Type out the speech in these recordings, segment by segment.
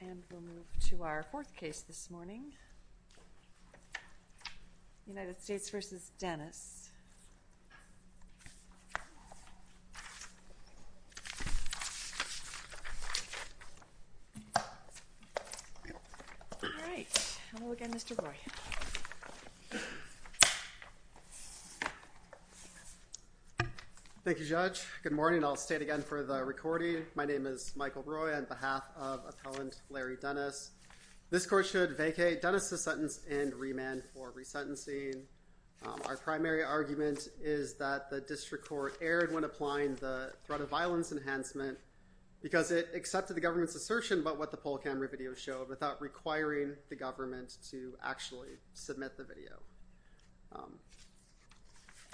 And we'll move to our fourth case this morning, United States v. Dennis. All right. Hello again, Mr. Roy. Thank you, Judge. Good morning. I'll state again for the recording, my name is Michael Roy on behalf of appellant Larry Dennis. This court should vacate Dennis' sentence and remand for resentencing. Our primary argument is that the district court erred when applying the threat of violence enhancement because it accepted the government's assertion about what the poll camera video showed without requiring the government to actually submit the video.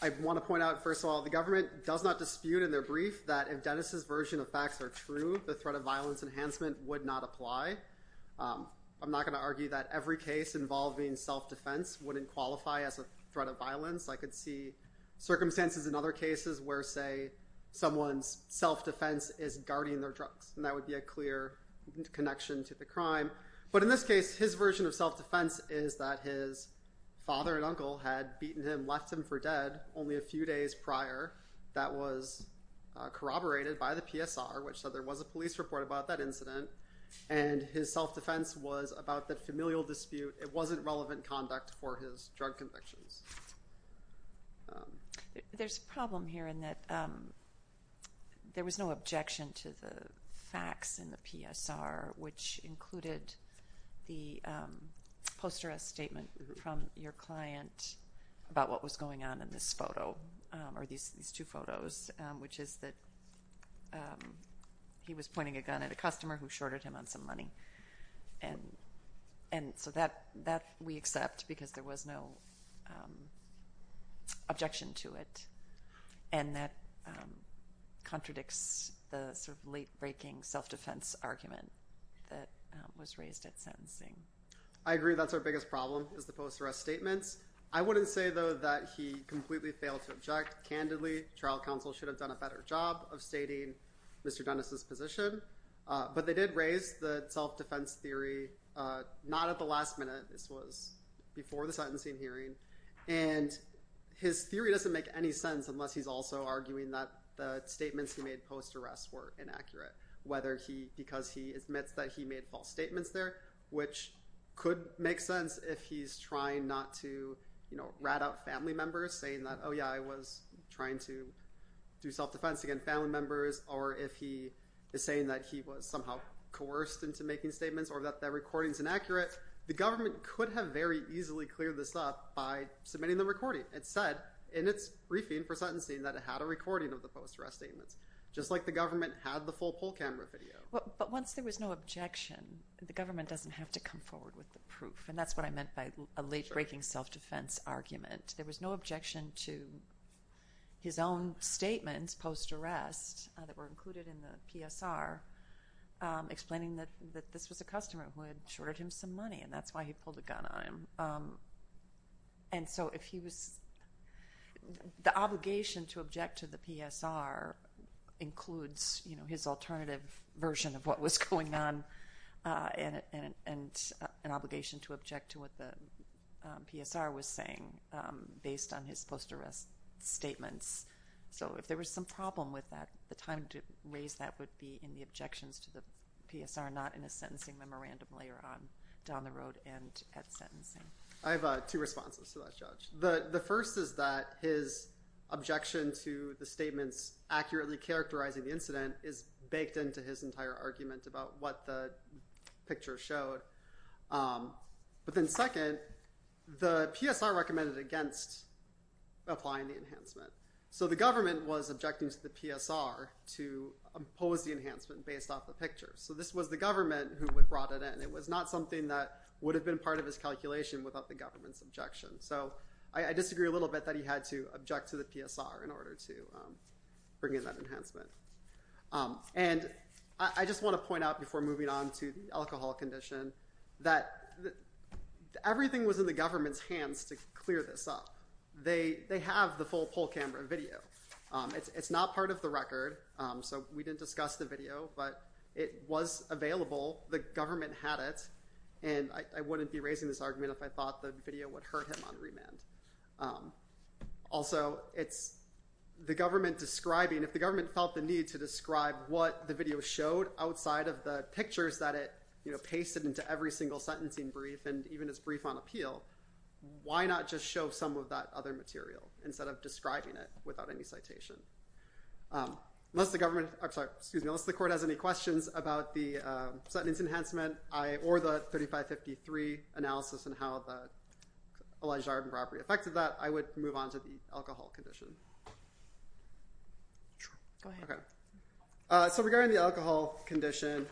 I want to point out, first of all, the government does not dispute in their brief that if Dennis' version of facts are true, the threat of violence enhancement would not apply. I'm not going to argue that every case involving self-defense wouldn't qualify as a threat of violence. I could see circumstances in other cases where, say, someone's self-defense is guarding their drugs, and that would be a clear connection to the crime. But in this case, his version of self-defense is that his father and uncle had beaten him, left him for dead only a few days prior. That was corroborated by the PSR, which said there was a police report about that incident, and his self-defense was about that familial dispute. It wasn't relevant conduct for his drug convictions. There's a problem here in that there was no objection to the facts in the PSR, which included the post-arrest statement from your client about what was going on in this photo, or these two photos, which is that he was pointing a gun at a customer who shorted him on some money. And so that we accept because there was no objection to it, and that contradicts the sort of late-breaking self-defense argument that was raised at sentencing. I agree. That's our biggest problem, is the post-arrest statements. I wouldn't say, though, that he completely failed to object. Candidly, trial counsel should have done a better job of stating Mr. Dennis's position. But they did raise the self-defense theory not at the last minute. This was before the sentencing hearing. And his theory doesn't make any sense unless he's also arguing that the statements he made post-arrest were inaccurate, because he admits that he made false statements there, which could make sense if he's trying not to rat out family members, saying that, oh, yeah, I was trying to do self-defense against family members, or if he is saying that he was somehow coerced into making statements or that the recording is inaccurate. The government could have very easily cleared this up by submitting the recording. It said in its briefing for sentencing that it had a recording of the post-arrest statements, just like the government had the full poll camera video. But once there was no objection, the government doesn't have to come forward with the proof. And that's what I meant by a late-breaking self-defense argument. There was no objection to his own statements post-arrest that were included in the PSR, explaining that this was a customer who had shorted him some money, and that's why he pulled a gun on him. And so the obligation to object to the PSR includes his alternative version of what was going on and an obligation to object to what the PSR was saying based on his post-arrest statements. So if there was some problem with that, the time to raise that would be in the objections to the PSR, not in a sentencing memorandum later on down the road and at sentencing. I have two responses to that, Judge. The first is that his objection to the statements accurately characterizing the incident is baked into his entire argument about what the picture showed. But then second, the PSR recommended against applying the enhancement. So the government was objecting to the PSR to impose the enhancement based off the picture. So this was the government who had brought it in. It was not something that would have been part of his calculation without the government's objection. So I disagree a little bit that he had to object to the PSR in order to bring in that enhancement. And I just want to point out before moving on to the alcohol condition that everything was in the government's hands to clear this up. They have the full poll camera video. It's not part of the record, so we didn't discuss the video, but it was available. The government had it, and I wouldn't be raising this argument if I thought the video would hurt him on remand. Also, if the government felt the need to describe what the video showed outside of the pictures that it pasted into every single sentencing brief and even its brief on appeal, why not just show some of that other material instead of describing it without any citation? Unless the court has any questions about the sentence enhancement or the 3553 analysis and how the alleged armed robbery affected that, I would move on to the alcohol condition. So regarding the alcohol condition,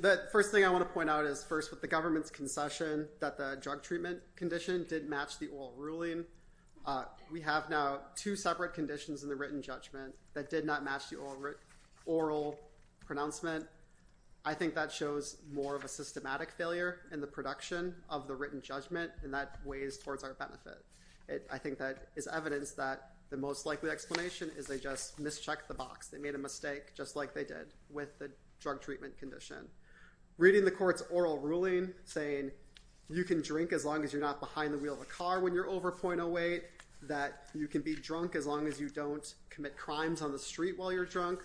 the first thing I want to point out is, first, with the government's concession that the drug treatment condition did match the oral ruling, we have now two separate conditions in the written judgment that did not match the oral pronouncement. I think that shows more of a systematic failure in the production of the written judgment, and that weighs towards our benefit. I think that is evidence that the most likely explanation is they just mischecked the box. They made a mistake, just like they did with the drug treatment condition. Reading the court's oral ruling saying you can drink as long as you're not behind the wheel of a car when you're over .08, that you can be drunk as long as you don't commit crimes on the street while you're drunk,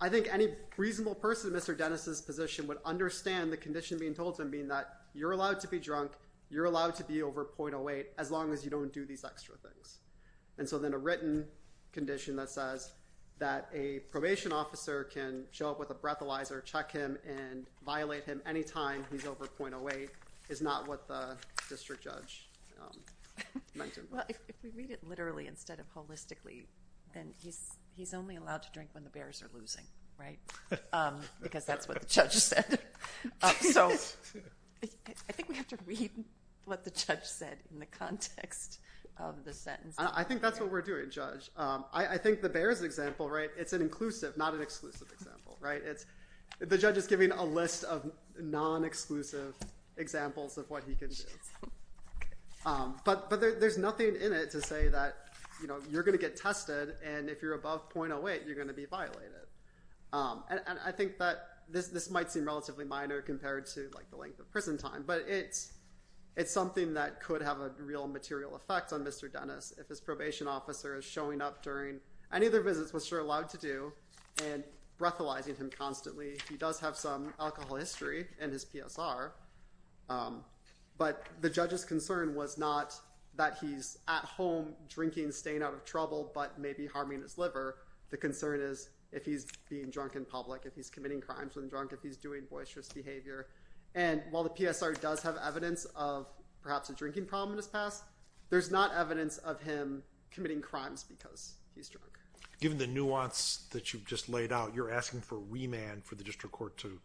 I think any reasonable person in Mr. Dennis' position would understand the condition being told to him being that you're allowed to be drunk, you're allowed to be over .08, as long as you don't do these extra things. And so then a written condition that says that a probation officer can show up with a breathalyzer, check him, and violate him any time he's over .08 is not what the district judge meant. Well, if we read it literally instead of holistically, then he's only allowed to drink when the Bears are losing, right? Because that's what the judge said. So I think we have to read what the judge said in the context of the sentence. I think that's what we're doing, Judge. I think the Bears example, right, it's an inclusive, not an exclusive example, right? The judge is giving a list of non-exclusive examples of what he can do. But there's nothing in it to say that, you know, you're going to get tested, and if you're above .08, you're going to be violated. And I think that this might seem relatively minor compared to, like, the length of prison time, but it's something that could have a real material effect on Mr. Dennis if his probation officer is showing up during any of their visits, which they're allowed to do, and breathalyzing him constantly. He does have some alcohol history in his PSR. But the judge's concern was not that he's at home drinking, staying out of trouble, but maybe harming his liver. The concern is if he's being drunk in public, if he's committing crimes when drunk, if he's doing boisterous behavior. And while the PSR does have evidence of perhaps a drinking problem in his past, there's not evidence of him committing crimes because he's drunk. Given the nuance that you've just laid out, you're asking for remand for the district court to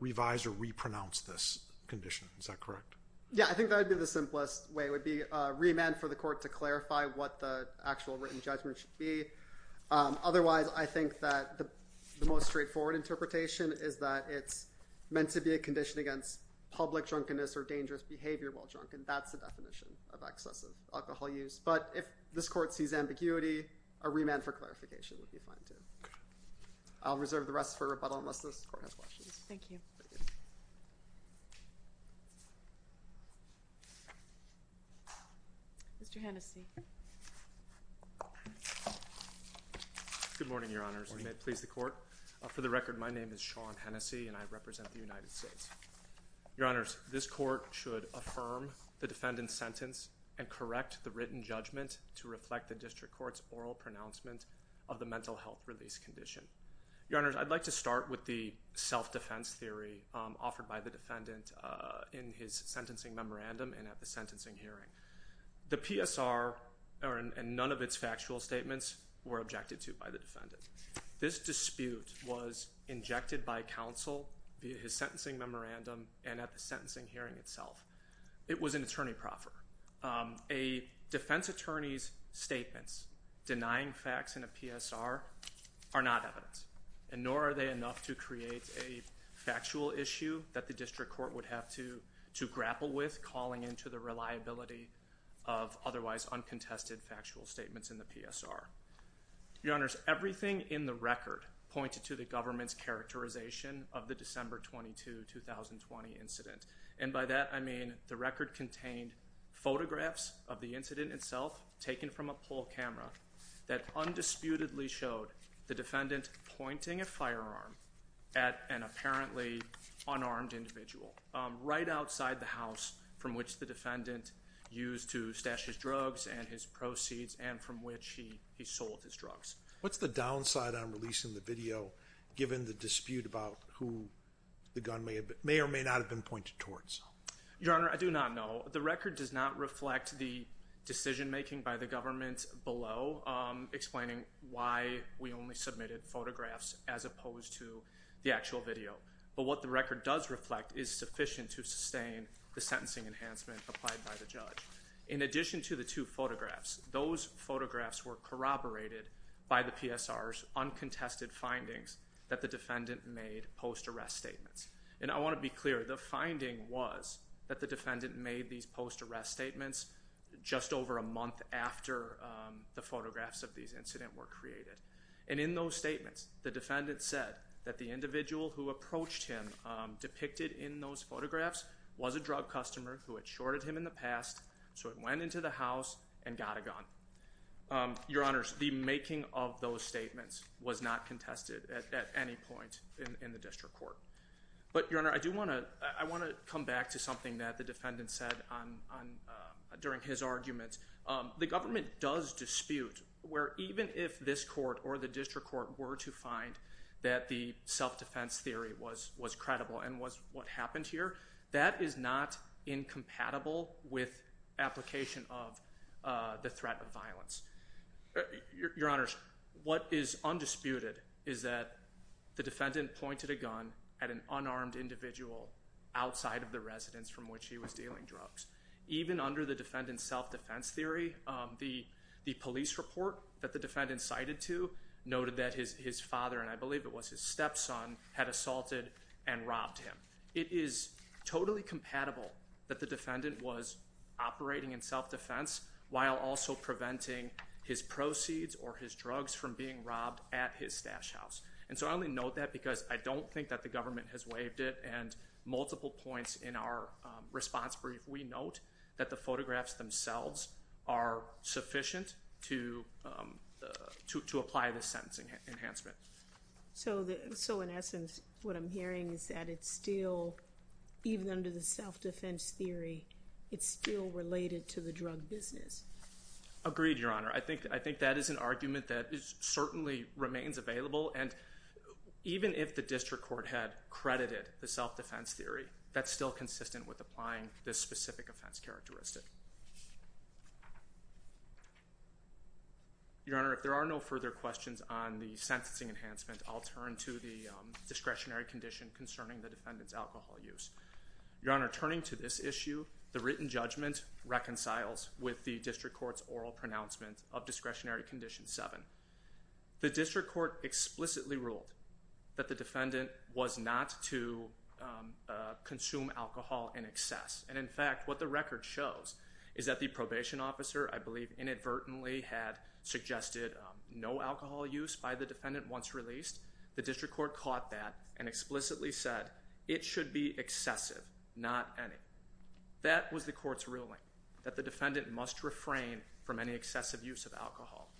revise or re-pronounce this condition. Is that correct? Yeah, I think that would be the simplest way. It would be remand for the court to clarify what the actual written judgment should be. Otherwise, I think that the most straightforward interpretation is that it's meant to be a condition against public drunkenness or dangerous behavior while drunk, and that's the definition of excessive alcohol use. But if this court sees ambiguity, a remand for clarification would be fine, too. I'll reserve the rest for rebuttal unless this court has questions. Thank you. Mr. Hennessey. Good morning, Your Honors. May it please the court? For the record, my name is Sean Hennessey, and I represent the United States. Your Honors, this court should affirm the defendant's sentence and correct the written judgment to reflect the district court's oral pronouncement of the mental health release condition. Your Honors, I'd like to start with the self-defense theory offered by the defendant in his sentencing memorandum and at the sentencing hearing. The PSR and none of its factual statements were objected to by the defendant. This dispute was injected by counsel via his sentencing memorandum and at the sentencing hearing itself. It was an attorney proffer. A defense attorney's statements denying facts in a PSR are not evidence, and nor are they enough to create a factual issue that the district court would have to grapple with, calling into the reliability of otherwise uncontested factual statements in the PSR. Your Honors, everything in the record pointed to the government's characterization of the December 22, 2020 incident. And by that, I mean the record contained photographs of the incident itself taken from a poll camera that undisputedly showed the defendant pointing a firearm at an apparently unarmed individual right outside the house from which the defendant used to stash his drugs and his proceeds and from which he sold his drugs. What's the downside on releasing the video given the dispute about who the gun may or may not have been pointed towards? Your Honor, I do not know. The record does not reflect the decision-making by the government below explaining why we only submitted photographs as opposed to the actual video. But what the record does reflect is sufficient to sustain the sentencing enhancement applied by the judge. In addition to the two photographs, those photographs were corroborated by the PSR's uncontested findings that the defendant made post-arrest statements. And I want to be clear, the finding was that the defendant made these post-arrest statements just over a month after the photographs of these incidents were created. And in those statements, the defendant said that the individual who approached him depicted in those photographs was a drug customer who had shorted him in the past, so he went into the house and got a gun. Your Honor, the making of those statements was not contested at any point in the district court. But, Your Honor, I do want to come back to something that the defendant said during his argument. The government does dispute where even if this court or the district court were to find that the self-defense theory was credible and was what happened here, that is not incompatible with application of the threat of violence. Your Honor, what is undisputed is that the defendant pointed a gun at an unarmed individual outside of the residence from which he was dealing drugs. Even under the defendant's self-defense theory, the police report that the defendant cited to noted that his father, and I believe it was his stepson, had assaulted and robbed him. It is totally compatible that the defendant was operating in self-defense while also preventing his proceeds or his drugs from being robbed at his stash house. And so I only note that because I don't think that the government has waived it. And multiple points in our response brief, we note that the photographs themselves are sufficient to apply the sentencing enhancement. So in essence, what I'm hearing is that it's still, even under the self-defense theory, it's still related to the drug business. Agreed, Your Honor. I think that is an argument that certainly remains available. And even if the district court had credited the self-defense theory, that's still consistent with applying this specific offense characteristic. Your Honor, if there are no further questions on the sentencing enhancement, I'll turn to the discretionary condition concerning the defendant's alcohol use. Your Honor, turning to this issue, the written judgment reconciles with the district court's oral pronouncement of discretionary condition 7. The district court explicitly ruled that the defendant was not to consume alcohol in excess. And, in fact, what the record shows is that the probation officer, I believe, inadvertently had suggested no alcohol use by the defendant once released. The district court caught that and explicitly said it should be excessive, not any. That was the court's ruling, that the defendant must refrain from any excessive use of alcohol.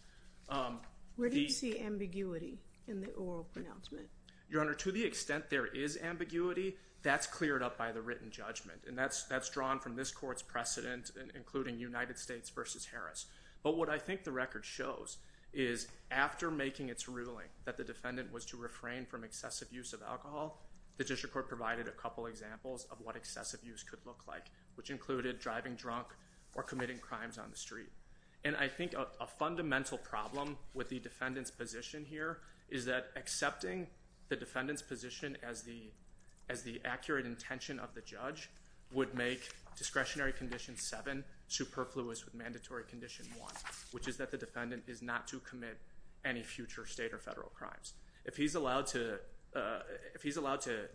Where do you see ambiguity in the oral pronouncement? Your Honor, to the extent there is ambiguity, that's cleared up by the written judgment. And that's drawn from this court's precedent, including United States v. Harris. But what I think the record shows is, after making its ruling that the defendant was to refrain from excessive use of alcohol, the district court provided a couple examples of what excessive use could look like, which included driving drunk or committing crimes on the street. And I think a fundamental problem with the defendant's position here is that accepting the defendant's position as the accurate intention of the judge would make discretionary condition 7 superfluous with mandatory condition 1, which is that the defendant is not to commit any future state or federal crimes. If he's allowed to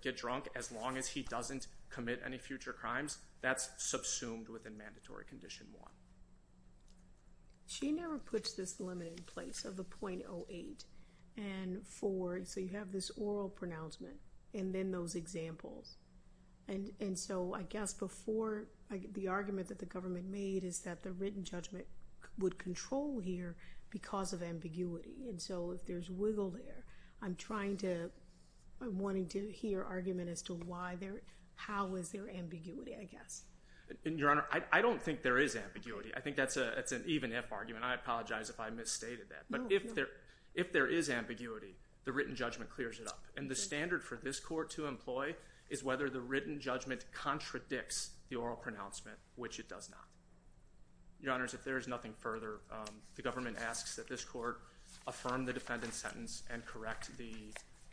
get drunk as long as he doesn't commit any future crimes, that's subsumed within mandatory condition 1. She never puts this limit in place of the .08. And for—so you have this oral pronouncement and then those examples. And so I guess before—the argument that the government made is that the written judgment would control here because of ambiguity. And so if there's wiggle there, I'm trying to—I'm wanting to hear argument as to why there—how is there ambiguity. I guess. Your Honor, I don't think there is ambiguity. I think that's an even-if argument. I apologize if I misstated that. But if there is ambiguity, the written judgment clears it up. And the standard for this court to employ is whether the written judgment contradicts the oral pronouncement, which it does not. Your Honors, if there is nothing further, the government asks that this court affirm the defendant's sentence and correct the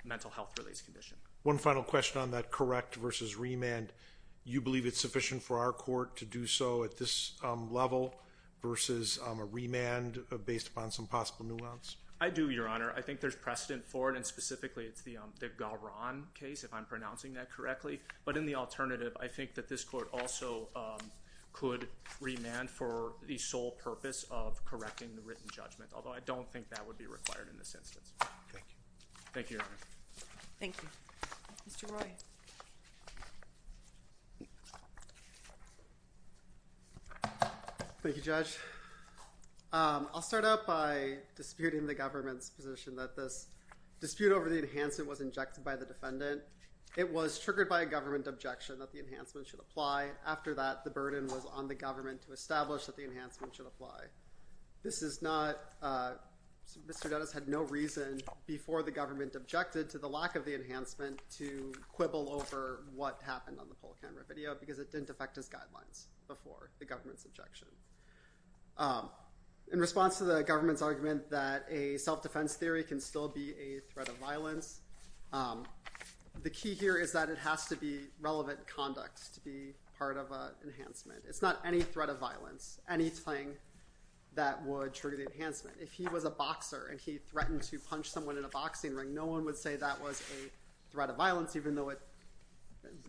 mental health release condition. One final question on that correct versus remand. And you believe it's sufficient for our court to do so at this level versus a remand based upon some possible nuance? I do, Your Honor. I think there's precedent for it, and specifically it's the Garon case, if I'm pronouncing that correctly. But in the alternative, I think that this court also could remand for the sole purpose of correcting the written judgment, although I don't think that would be required in this instance. Thank you. Thank you, Your Honor. Thank you. Mr. Roy. Thank you, Judge. I'll start out by disputing the government's position that this dispute over the enhancement was injected by the defendant. It was triggered by a government objection that the enhancement should apply. After that, the burden was on the government to establish that the enhancement should apply. This is not Mr. Dennis had no reason before the government objected to the lack of the enhancement to quibble over what happened on the poll camera video because it didn't affect his guidelines before the government's objection. In response to the government's argument that a self-defense theory can still be a threat of violence, the key here is that it has to be relevant conduct to be part of an enhancement. It's not any threat of violence, anything that would trigger the enhancement. If he was a boxer and he threatened to punch someone in a boxing ring, no one would say that was a threat of violence, even though it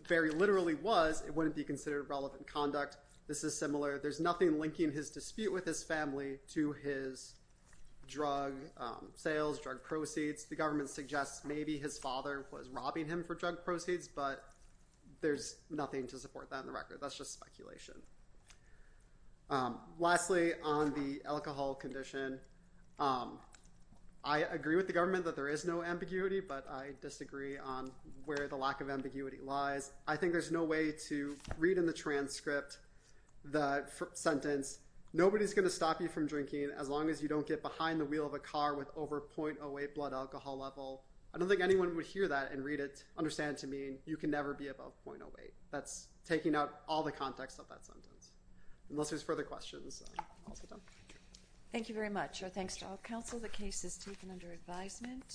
very literally was. It wouldn't be considered relevant conduct. This is similar. There's nothing linking his dispute with his family to his drug sales, drug proceeds. The government suggests maybe his father was robbing him for drug proceeds, but there's nothing to support that in the record. That's just speculation. Lastly, on the alcohol condition, I agree with the government that there is no ambiguity, but I disagree on where the lack of ambiguity lies. I think there's no way to read in the transcript the sentence. Nobody's going to stop you from drinking as long as you don't get behind the wheel of a car with over .08 blood alcohol level. I don't think anyone would hear that and read it. Understand to me, you can never be above .08. That's taking out all the context of that sentence, unless there's further questions. Thank you very much. Our thanks to all of counsel. The case is taken under advisement.